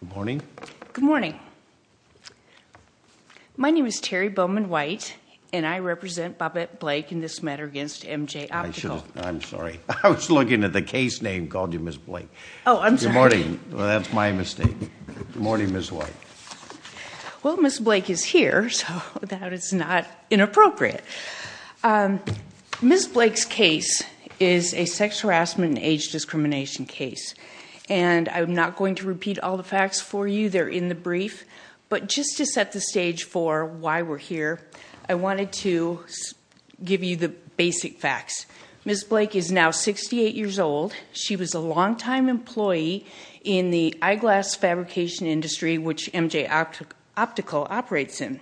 Good morning. Good morning. My name is Terry Bowman White and I represent Bobbette Blake in this matter against MJ Optical. I'm sorry I was looking at the case name called you Ms. Blake. Oh I'm sorry. Good morning, that's my mistake. Good morning Ms. White. Well Ms. Blake is here so that is not inappropriate. Ms. Blake's case is a sex harassment and age discrimination case and I'm not going to repeat all the facts for you. They're in the brief but just to set the stage for why we're here I wanted to give you the basic facts. Ms. Blake is now 68 years old. She was a longtime employee in the eyeglass fabrication industry which MJ Optical operates in.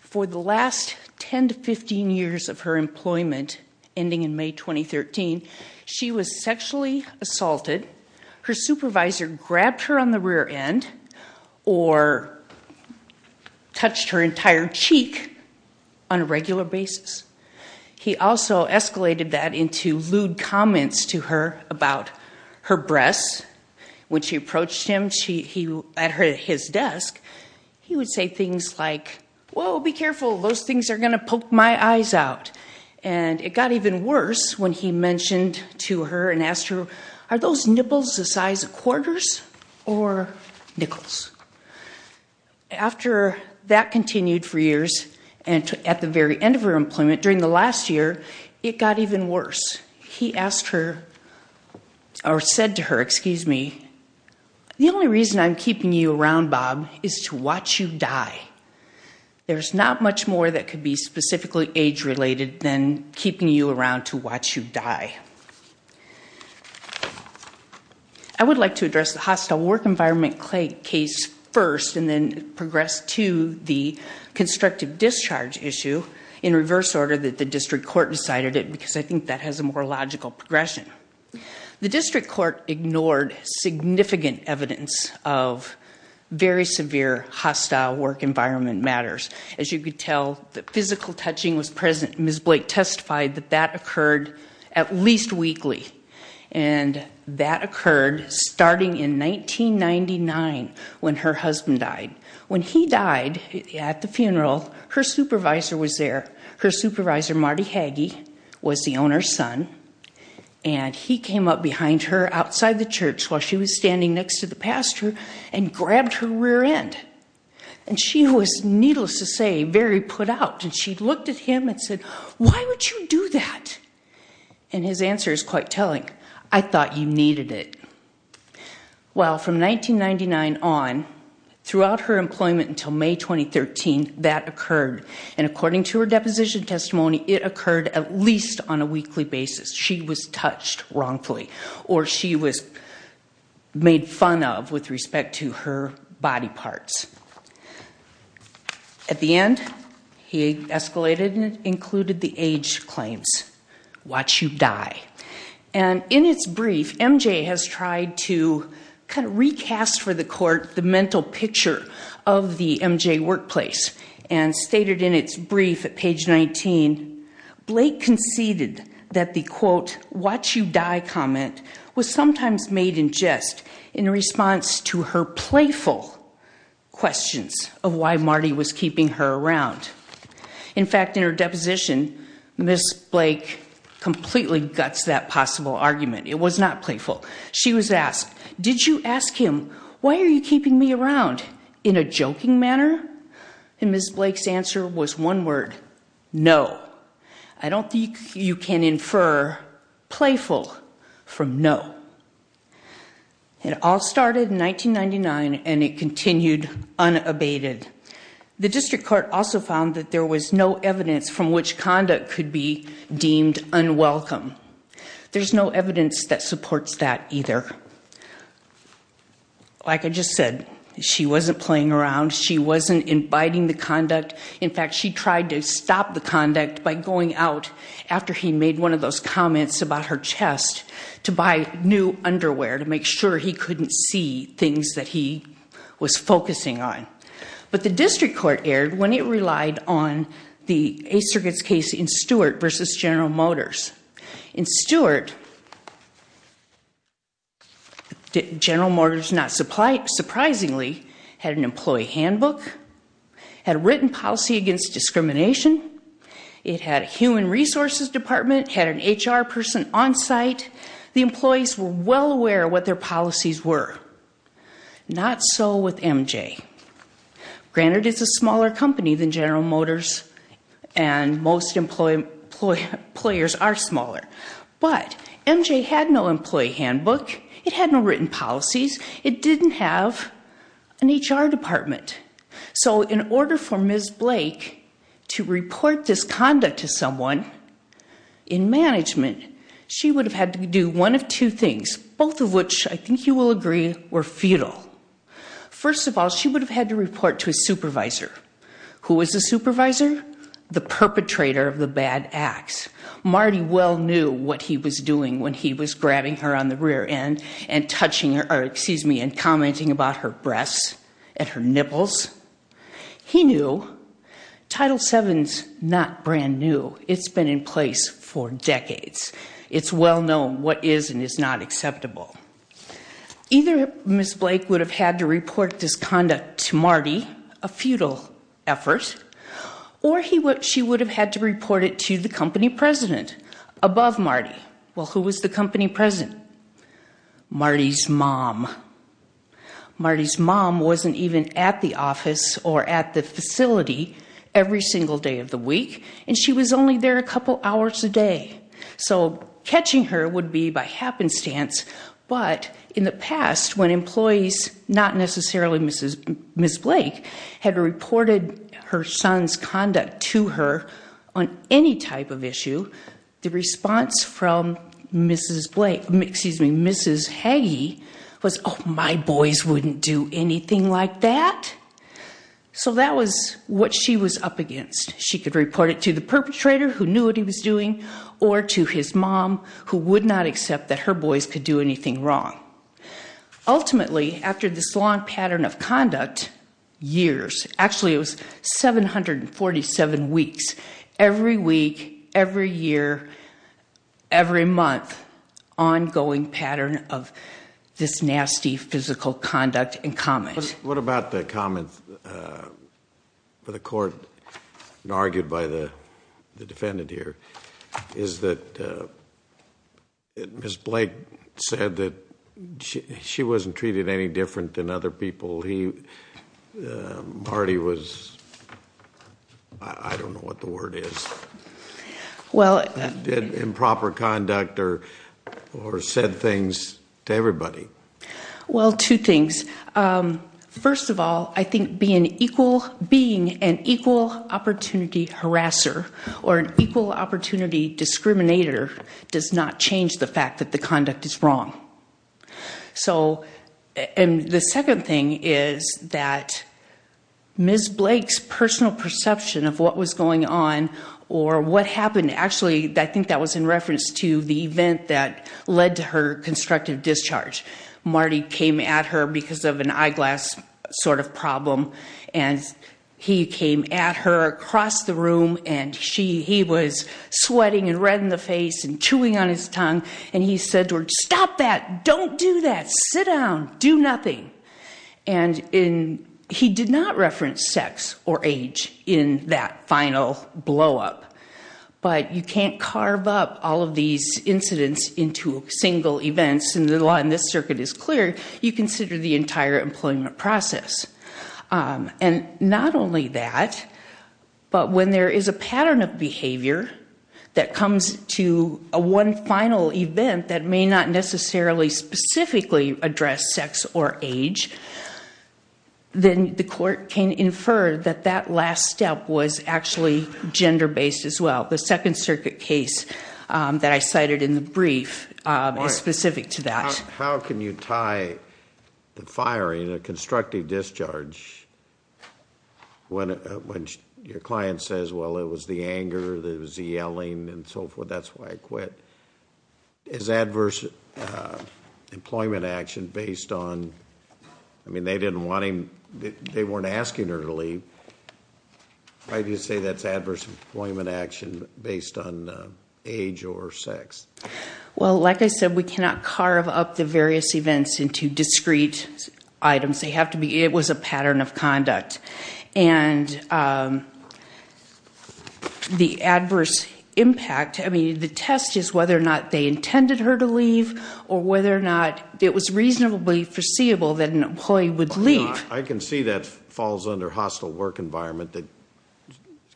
For the last 10 to 15 years of her employment ending in grabbed her on the rear end or touched her entire cheek on a regular basis. He also escalated that into lewd comments to her about her breasts. When she approached him at his desk he would say things like, whoa be careful those things are gonna poke my eyes out and it got even worse when he asked her, is it the size of quarters or nickels? After that continued for years and at the very end of her employment during the last year it got even worse. He asked her or said to her, excuse me, the only reason I'm keeping you around Bob is to watch you die. There's not much more that could be specifically age-related than I would like to address the hostile work environment case first and then progress to the constructive discharge issue in reverse order that the district court decided it because I think that has a more logical progression. The district court ignored significant evidence of very severe hostile work environment matters. As you could tell the physical touching was present. Ms. Weakley and that occurred starting in 1999 when her husband died. When he died at the funeral her supervisor was there. Her supervisor Marty Hagee was the owner's son and he came up behind her outside the church while she was standing next to the pastor and grabbed her rear end and she was needless to say very put out and she looked at him and said, why would you do that? And his answer is quite telling. I thought you needed it. Well from 1999 on throughout her employment until May 2013 that occurred and according to her deposition testimony it occurred at least on a weekly basis. She was touched wrongfully or she was made fun of with respect to her body parts. At the end he escalated and included the age claims. Watch you die. And in its brief MJ has tried to kind of recast for the court the mental picture of the MJ workplace and stated in its brief at page 19, Blake conceded that the quote watch you die comment was sometimes made in jest in response to her playful questions of why Marty was keeping her around. In fact in her guts that possible argument. It was not playful. She was asked, did you ask him why are you keeping me around in a joking manner? And Ms. Blake's answer was one word, no. I don't think you can infer playful from no. It all started in 1999 and it continued unabated. The district court also found that there was no evidence that supports that either. Like I just said she wasn't playing around. She wasn't inviting the conduct. In fact she tried to stop the conduct by going out after he made one of those comments about her chest to buy new underwear to make sure he couldn't see things that he was focusing on. But the district court erred when it relied on the Eighth Circuit's case in Stewart versus General Motors. In Stewart, General Motors not surprisingly had an employee handbook, had written policy against discrimination, it had a human resources department, had an HR person on-site. The employees were well aware what their company than General Motors and most employee players are smaller. But MJ had no employee handbook, it had no written policies, it didn't have an HR department. So in order for Ms. Blake to report this conduct to someone in management she would have had to do one of two things, both of which I think you will agree were futile. First of all she would have had to report to a supervisor. Who was the supervisor? The perpetrator of the bad acts. Marty well knew what he was doing when he was grabbing her on the rear end and touching her, excuse me, and commenting about her breasts and her nipples. He knew Title VII's not brand new, it's been in place for decades. It's well known what is and is not acceptable. Either Ms. Blake would have had to report this conduct to Marty, a futile effort, or she would have had to report it to the company president above Marty. Well who was the company president? Marty's mom. Marty's mom wasn't even at the office or at the facility every single day of the week and she was only there a couple hours a day. So catching her would be by happenstance, but in the past when employees, not necessarily Mrs. Blake, had reported her son's conduct to her on any type of issue, the response from Mrs. Blake, excuse me, Mrs. Hagee was, oh my boys wouldn't do anything like that. So that was what she was up against. She could report it to the perpetrator who would not accept that her boys could do anything wrong. Ultimately, after this long pattern of conduct, years, actually it was 747 weeks, every week, every year, every month, ongoing pattern of this nasty physical conduct and comments. What about the comment, the court argued by the defendant here, is that Mrs. Blake said that she wasn't treated any different than other people. Marty was... I don't know what the word is. Improper conduct or said things to everybody. Well, two things. First of all, I think being an equal opportunity harasser or an equal opportunity discriminator does not change the fact that the conduct is wrong. So, and the second thing is that Ms. Blake's personal perception of what was going on or what happened, actually I think that was in reference to the event that led to her constructive discharge. Marty came at her because of an eyeglass sort of problem and he came at her across the room and she, he was sweating and red in the face and chewing on his tongue and he said to her, stop that, don't do that, sit down, do nothing. And he did not carve up all of these incidents into single events and the law in this circuit is clear, you consider the entire employment process. And not only that, but when there is a pattern of behavior that comes to a one final event that may not necessarily specifically address sex or age, then the court can infer that that last step was actually gender-based as well. The Second Circuit case that I cited in the brief is specific to that. How can you tie the firing, a constructive discharge, when your client says, well it was the anger, it was the yelling and so forth, that's why I quit. Is adverse employment action based on, I mean they didn't want him, they weren't asking her to leave. Why do you say that's adverse employment action based on age or sex? Well like I said, we cannot carve up the various events into discrete items. They have to be, it was a pattern of conduct. And the adverse impact, I mean the test is whether or not they intended her to leave or whether or not it was reasonably foreseeable that an employee would leave. I can see that falls under hostile work environment, that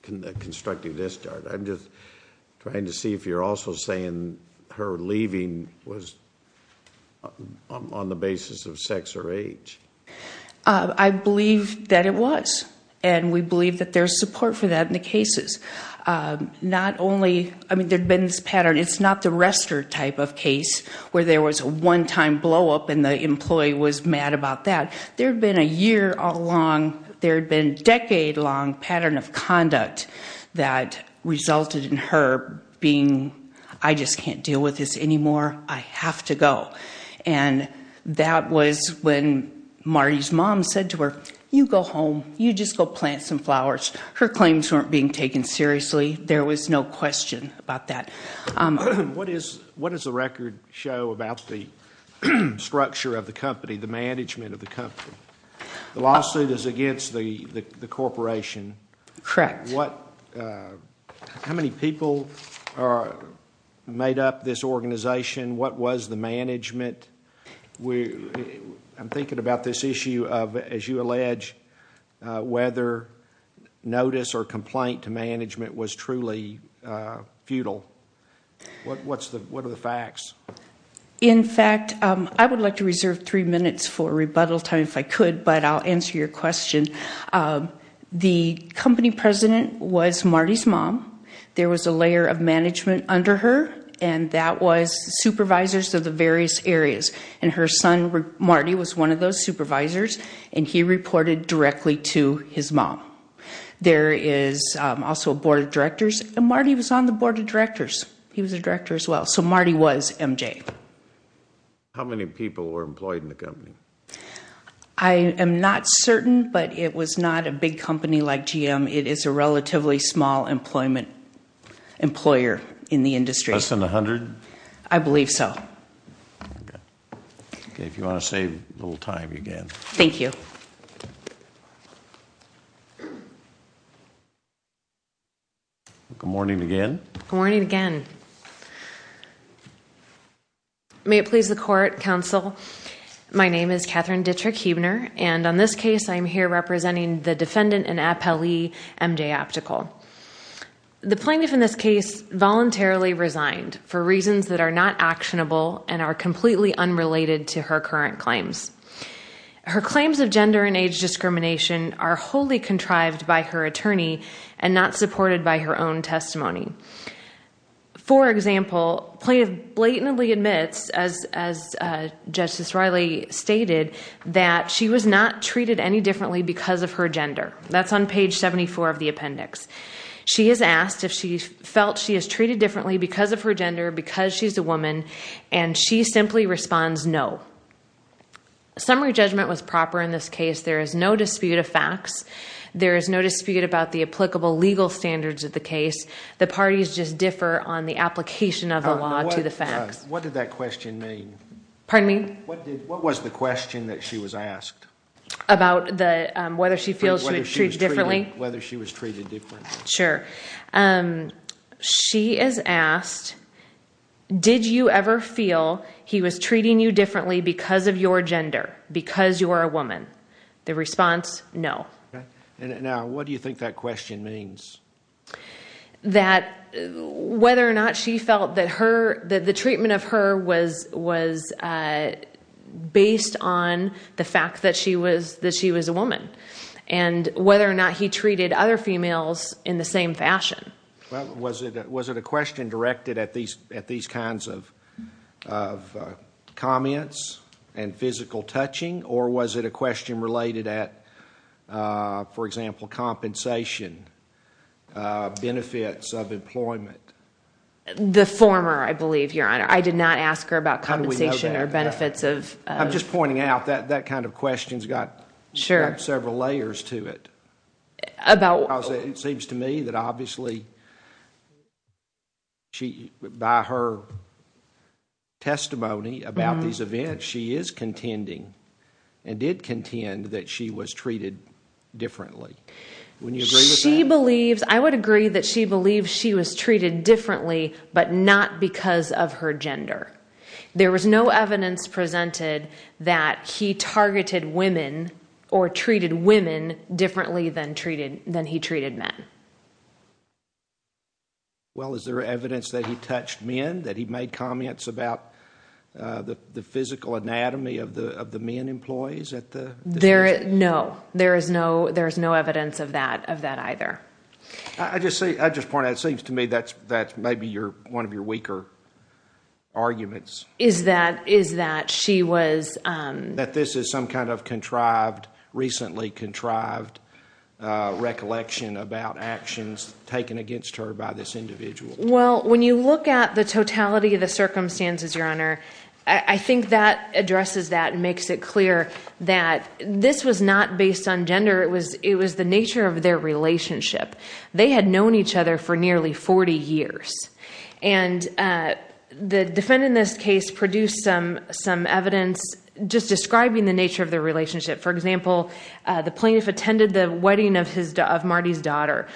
constructive discharge. I'm just trying to see if you're also saying her leaving was on the basis of sex or age. I believe that it was and we believe that there's support for that in the cases. Not only, I mean there'd been this pattern, it's not the arrestor type of case where there was a one-time blow-up and the employee was mad about that. There had been a year all along, there had been a decade long pattern of conduct that resulted in her being, I just can't deal with this anymore, I have to go. And that was when Marty's mom said to her, you go home, you just go plant some flowers. Her claims weren't being taken seriously, there was no question about that. What does the record show about the structure of the company, the management of the company? The lawsuit is against the corporation. Correct. How many people made up this organization? What was the management? I'm thinking about this issue of, as you allege, whether notice or complaint to management was truly futile. What are the facts? In three minutes for rebuttal time, if I could, but I'll answer your question. The company president was Marty's mom. There was a layer of management under her and that was supervisors of the various areas. And her son, Marty, was one of those supervisors and he reported directly to his mom. There is also a board of directors and Marty was on the board of directors. He was a director as well. So how many people were employed in the company? I am not certain, but it was not a big company like GM. It is a relatively small employment employer in the industry. Less than a hundred? I believe so. Okay, if you want to save a little time, you can. Thank you. Good morning again. Good morning again. May it please the court, counsel. My name is Catherine Dittrich Huebner and on this case I'm here representing the defendant and appellee MJ Optical. The plaintiff in this case voluntarily resigned for reasons that are not actionable and are completely unrelated to her current claims. Her claims of gender and age discrimination are wholly contrived by her attorney and not supported by her own testimony. For example, the plaintiff blatantly admits, as Justice Riley stated, that she was not treated any differently because of her gender. That's on page 74 of the appendix. She has asked if she felt she is treated differently because of her gender, because she's a Summary judgment was proper in this case. There is no dispute of facts. There is no dispute about the applicable legal standards of the case. The parties just differ on the application of the law to the facts. What did that question mean? Pardon me? What was the question that she was asked? About whether she feels she was treated differently? Whether she was treated differently. Sure. She is treated differently because of your gender, because you are a woman. The response, no. Now what do you think that question means? That whether or not she felt that the treatment of her was based on the fact that she was a woman and whether or not he treated other females in the same fashion. Was it a question directed at these kinds of comments and physical touching or was it a question related at, for example, compensation benefits of employment? The former, I believe, Your Honor. I did not ask her about compensation or benefits. I'm just pointing out that that kind of question's got several layers to it. It seems to me that obviously, by her testimony about these events, she is contending and did contend that she was treated differently. She believes, I would agree that she believes she was treated differently but not because of her gender. There was no evidence presented that he targeted women or treated women differently than he treated men. Well, is there evidence that he touched men? That he made comments about the physical anatomy of the men employees? No. There is no evidence of that either. I just point out, it seems to me that's maybe one of your weaker arguments. Is that she was... That this is some kind of recently contrived recollection about actions taken against her by this individual. Well, when you look at the totality of the circumstances, Your Honor, I think that addresses that and makes it clear that this was not based on gender. It was the nature of their relationship. They had known each other for nearly 40 years and the defendant in this case produced some evidence just describing the nature of their relationship. For example, the plaintiff attended the wedding of Marty's daughter.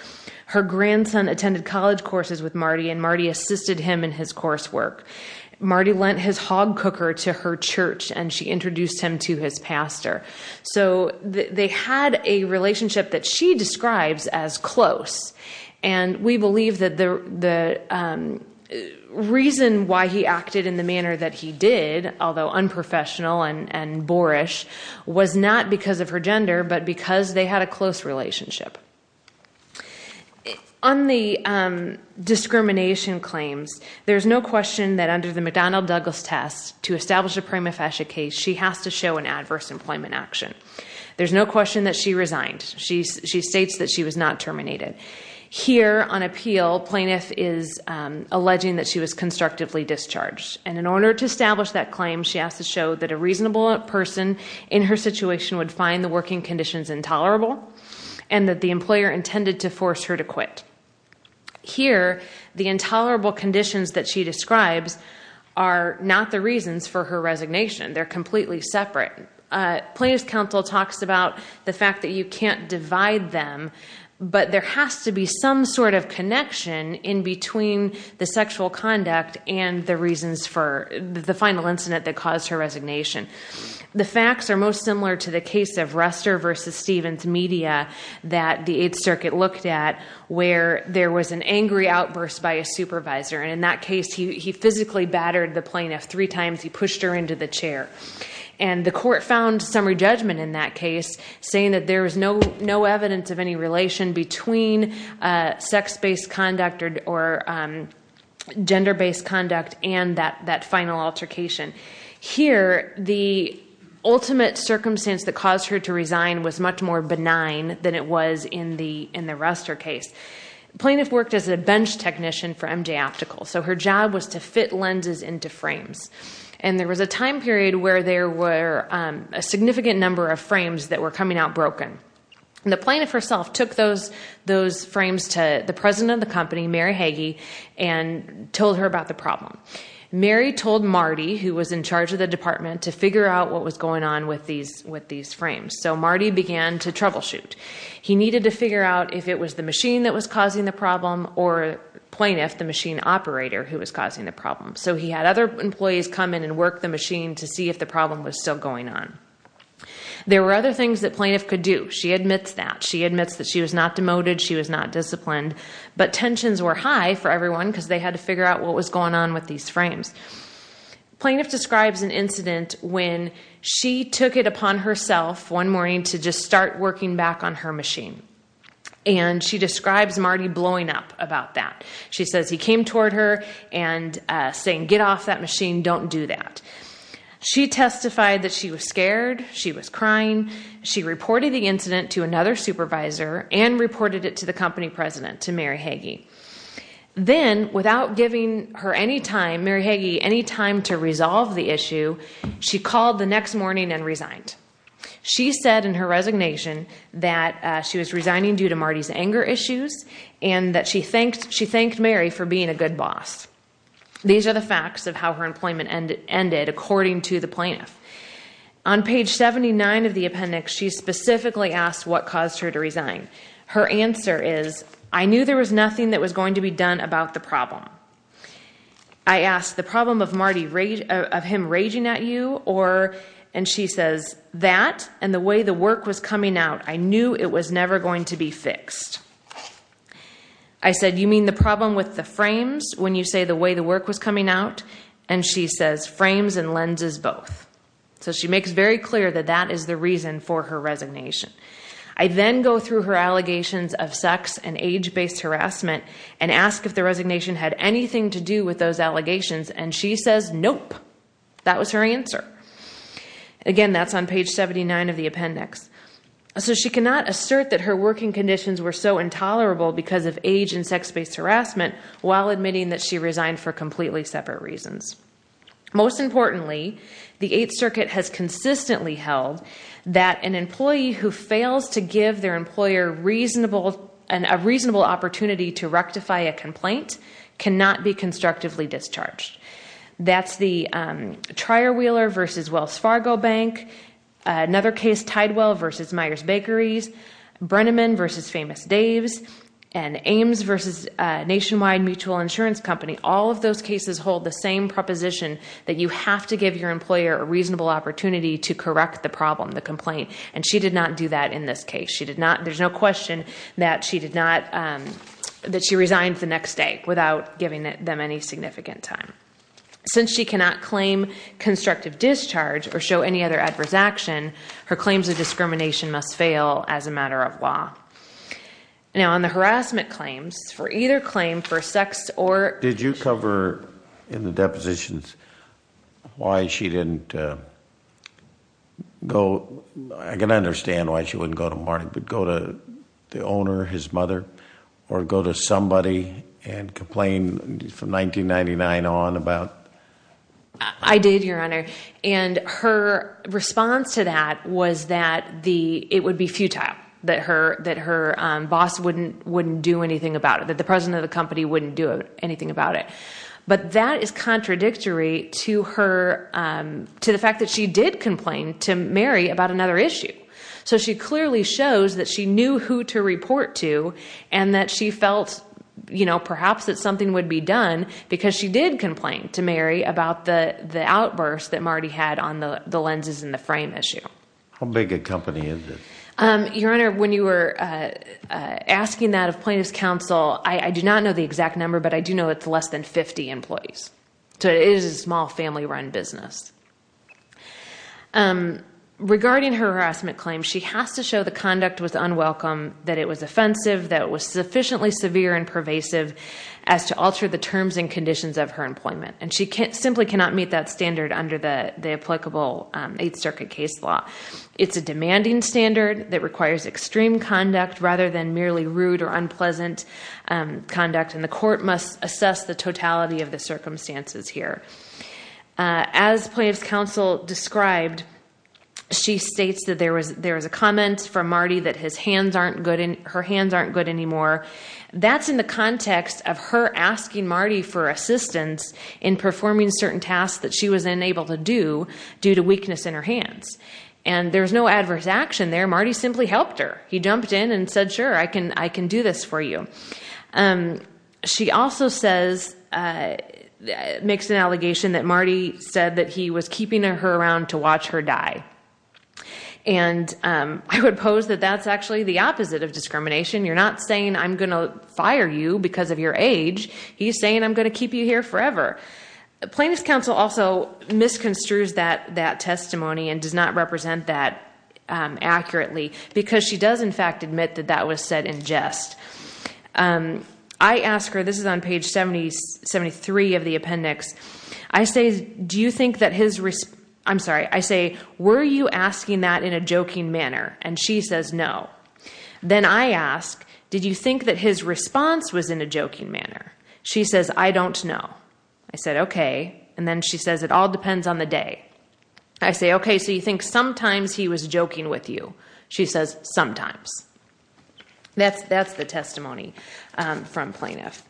Her grandson attended college courses with Marty and Marty assisted him in his coursework. Marty lent his hog cooker to her church and she introduced him to his pastor. They had a relationship that she reasoned why he acted in the manner that he did, although unprofessional and boorish, was not because of her gender but because they had a close relationship. On the discrimination claims, there's no question that under the McDonnell-Douglas test, to establish a prima facie case, she has to show an adverse employment action. There's no question that she resigned. She states that she was not alleging that she was constructively discharged. In order to establish that claim, she has to show that a reasonable person in her situation would find the working conditions intolerable and that the employer intended to force her to quit. Here, the intolerable conditions that she describes are not the reasons for her resignation. They're completely separate. Plaintiff's counsel talks about the fact that you can't divide them, but there has to be some sort of connection in between the sexual conduct and the reasons for the final incident that caused her resignation. The facts are most similar to the case of Ruster versus Stevens media that the Eighth Circuit looked at, where there was an angry outburst by a supervisor. In that case, he physically battered the plaintiff three times. He pushed her into the chair. The court found summary judgment in that case, saying that there was no evidence of any relation between sex-based conduct or gender-based conduct and that final altercation. Here, the ultimate circumstance that caused her to resign was much more benign than it was in the Ruster case. The plaintiff worked as a bench technician for MJ Optical. Her job was to fit lenses into frames. There was a time period where there were a significant number of frames that were coming out broken. The plaintiff herself took those frames to the president of the company, Mary Hagee, and told her about the problem. Mary told Marty, who was in charge of the department, to figure out what was going on with these frames. So Marty began to troubleshoot. He needed to figure out if it was the machine that was causing the problem or plaintiff, the machine operator, who was causing the problem. So he had other employees come in and work the machine to see if the problem was still going on. There were other things that plaintiff could do. She admits that. She admits that she was not demoted. She was not disciplined. But tensions were high for everyone because they had to figure out what was going on with these frames. Plaintiff describes an incident when she took it upon herself one morning to just start working back on her machine. And she describes Marty blowing up about that. She says he came toward her and saying, get off that machine. Don't do that. She testified that she was scared. She was crying. She reported the incident to another supervisor and reported it to the company president, to Mary Hagee. Then, without giving her any time, Mary Hagee, any time to resolve the issue, she called the next morning and resigned. She said in her resignation that she was resigning due to Marty's anger issues and that she thanked Mary for being a good boss. These are the facts of how her employment ended, according to the plaintiff. On page 79 of the appendix, she specifically asked what caused her to resign. Her answer is, I knew there was nothing that was going to be done about the problem. I asked, the problem of Marty, of him raging at you, or, and she says, that and the way the work was coming out, I knew it was never going to be fixed. I said, you mean the problem with the frames when you say the way the work was coming out? She says, frames and lenses both. She makes very clear that that is the reason for her resignation. I then go through her allegations of sex and age-based harassment and ask if the resignation had anything to do with those allegations. She says, nope. That was her answer. Again, that's on page 79 of the appendix. She cannot assert that her working conditions were so intolerable because of age and sex-based harassment while admitting that she resigned for completely separate reasons. Most importantly, the Eighth Circuit has consistently held that an employee who fails to give their employer reasonable, a reasonable opportunity to rectify a complaint cannot be constructively discharged. That's the Trier Wheeler versus Wells Fargo Bank. Another case, Tidewell versus Meyers Bakeries. Brenneman versus Famous Dave's. Ames versus Nationwide Mutual Insurance Company. All of those cases hold the same proposition that you have to give your employer a reasonable opportunity to correct the problem, the complaint. She did not do that in this case. There's no question that she resigned the next day without giving them any significant time. Since she cannot claim constructive discharge or show any other adverse action, her Now, on the harassment claims, for either claim, for sex or... Did you cover in the depositions why she didn't go... I can understand why she wouldn't go to Martin, but go to the owner, his mother, or go to somebody and complain from 1999 on about... I did, Your Honor, and her response to that was that it would be futile, that her boss wouldn't do anything about it, that the president of the company wouldn't do anything about it. But that is contradictory to the fact that she did complain to Mary about another issue. So she clearly shows that she knew who to report to and that she felt perhaps that something would be done because she did complain to Mary about the outburst that Marty had on the lenses in the frame issue. How big a Your Honor, when you were asking that of plaintiff's counsel, I do not know the exact number, but I do know it's less than 50 employees. So it is a small family-run business. Regarding her harassment claims, she has to show the conduct was unwelcome, that it was offensive, that it was sufficiently severe and pervasive as to alter the terms and conditions of her employment. And she simply cannot meet that standard under the applicable Eighth Requires extreme conduct rather than merely rude or unpleasant conduct and the court must assess the totality of the circumstances here. As plaintiff's counsel described, she states that there was a comment from Marty that her hands aren't good anymore. That's in the context of her asking Marty for assistance in performing certain tasks that she was unable to do due to weakness in her hands. And there's no adverse action there. Marty simply helped her. He jumped in and said, sure, I can do this for you. She also makes an allegation that Marty said that he was keeping her around to watch her die. And I would pose that that's actually the opposite of discrimination. You're not saying I'm gonna fire you because of your age. He's saying I'm gonna keep you here forever. Plaintiff's counsel also misconstrues that testimony and does not accurately because she does in fact admit that that was said in jest. I ask her, this is on page 73 of the appendix, I say, were you asking that in a joking manner? And she says, no. Then I ask, did you think that his response was in a joking manner? She says, I don't know. I said, okay. And then she says, it all depends on the day. I say, okay, so you think sometimes he was joking with you? She says, sometimes. That's the testimony from plaintiff.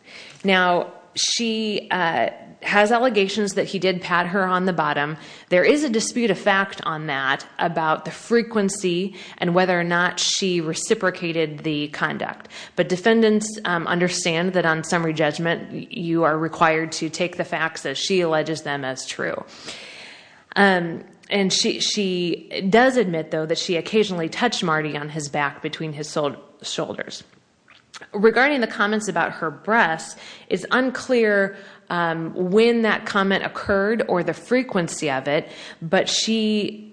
Now she has allegations that he did pat her on the bottom. There is a dispute of fact on that about the frequency and whether or not she reciprocated the conduct. But defendants understand that on summary judgment you are required to take the facts as she alleges them as true. And she does admit though that she occasionally touched Marty on his back between his shoulders. Regarding the comments about her breasts, it's unclear when that comment occurred or the frequency of it. But she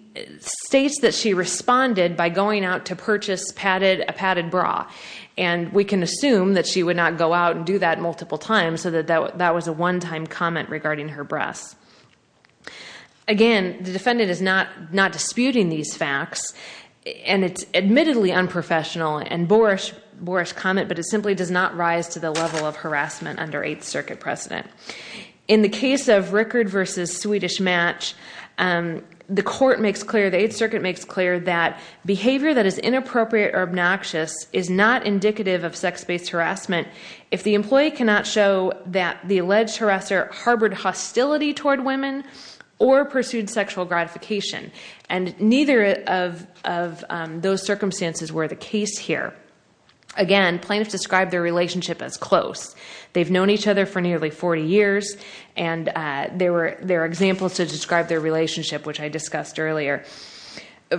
states that she responded by going out to purchase a padded bra. And we can assume that she would not go out and do that multiple times so that that was a one-time comment regarding her breasts. Again, the defendant is not disputing these facts. And it's admittedly unprofessional and a boorish comment, but it simply does not rise to the level of harassment under Eighth Circuit precedent. In the case of Rickard versus Swedish Match, the court makes clear, the Eighth Circuit makes clear that behavior that is inappropriate or obnoxious is not indicative of sex-based harassment if the employee cannot show that the alleged harasser harbored hostility toward women or pursued sexual gratification. And neither of those circumstances were the case here. Again, plaintiffs describe their relationship as close. They've known each other for nearly 40 years and there are examples to describe their relationship, which I discussed earlier.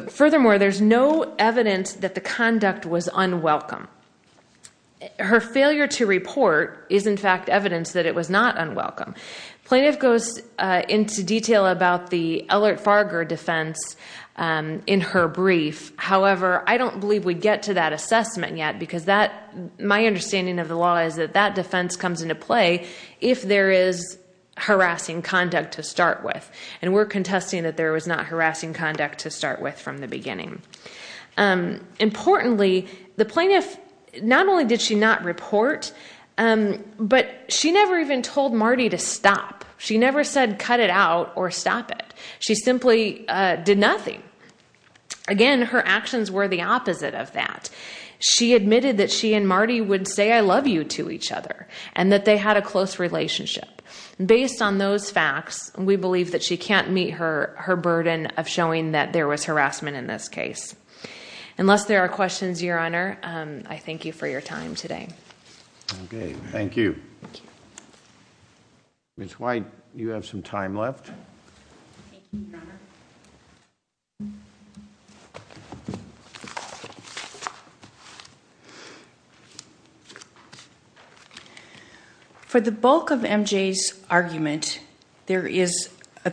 Furthermore, there's no evidence that the conduct was unwelcome. Her failure to report is, in fact, evidence that it was not unwelcome. Plaintiff goes into detail about the Ellert-Farger defense in her brief. However, I don't believe we get to that assessment yet because my understanding of the law is that that defense comes into play if there is harassing conduct to start with. And we're contesting that there was not harassing conduct to start with from the beginning. Importantly, the plaintiff, not only did she not report, but she never even told Marty to stop. She never said cut it out or stop it. She simply did nothing. Again, her actions were the opposite of that. She admitted that she and Marty would say I love you to each other and that they had a close relationship. Based on those facts, we believe that she can't meet her harassment in this case. Unless there are questions, Your Honor, I thank you for your time today. Okay, thank you. Ms. White, you have some time left. For the bulk of MJ's argument, there is a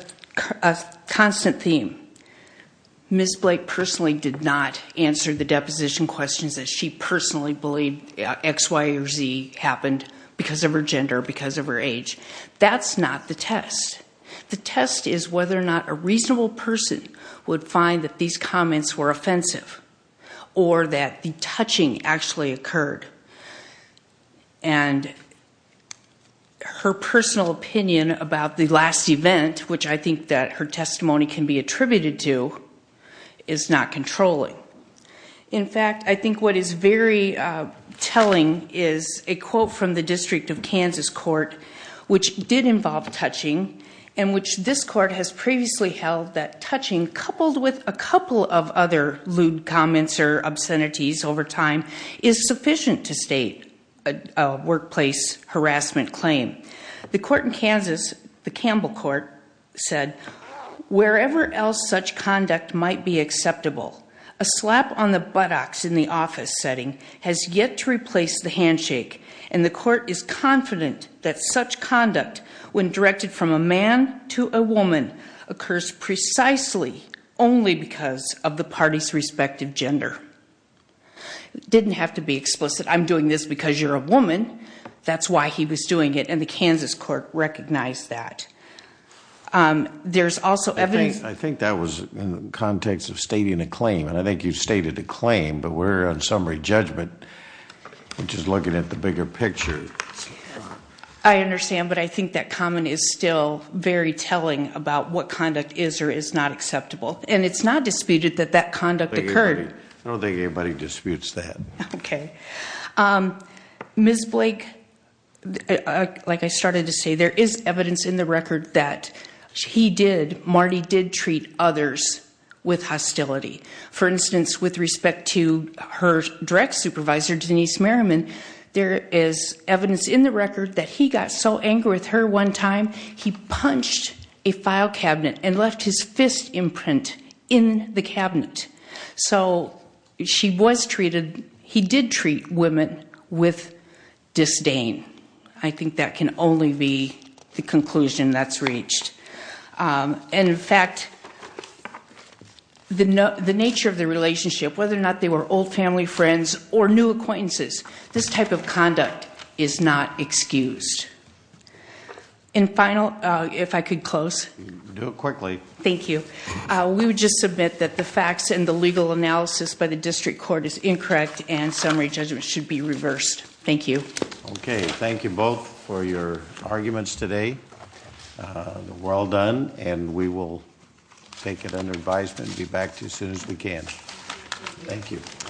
constant theme. Ms. Blake personally did not answer the deposition questions as she personally believed X, Y, or Z happened because of her gender, because of her age. That's not the test. The test is whether or not a reasonable person would find that these comments were offensive or that the touching actually occurred. And her personal opinion about the last event, which I think that her testimony can be attributed to, is not In fact, I think what is very telling is a quote from the District of Kansas court, which did involve touching, and which this court has previously held that touching, coupled with a couple of other lewd comments or obscenities over time, is sufficient to state a workplace harassment claim. The court in Kansas, the a slap on the buttocks in the office setting has yet to replace the handshake, and the court is confident that such conduct, when directed from a man to a woman, occurs precisely only because of the party's respective gender. It didn't have to be explicit. I'm doing this because you're a woman. That's why he was doing it, and the Kansas court recognized that. There's also evidence... I think that was in the context of stating a claim, and I think you've stated a claim, but we're on summary judgment, which is looking at the bigger picture. I understand, but I think that comment is still very telling about what conduct is or is not acceptable, and it's not disputed that that conduct occurred. I don't think anybody disputes that. Okay. Ms. Blake, like I started to say, there is evidence in the record that he did... Marty did treat others with hostility. For instance, with respect to her direct supervisor, Denise Merriman, there is evidence in the record that he got so angry with her one time, he punched a file cabinet and left his fist imprint in the cabinet. So she was treated... he did treat women with disdain. I think that can only be the conclusion that's reached, and in fact, the nature of the relationship, whether or not they were old family friends or new acquaintances, this type of conduct is not excused. And final, if I could close. Do it quickly. Thank you. We would just submit that the facts and the legal analysis by the district court is should be reversed. Thank you. Okay, thank you both for your arguments today. We're all done, and we will take it under advisement and be back to you as soon as we can. Thank you.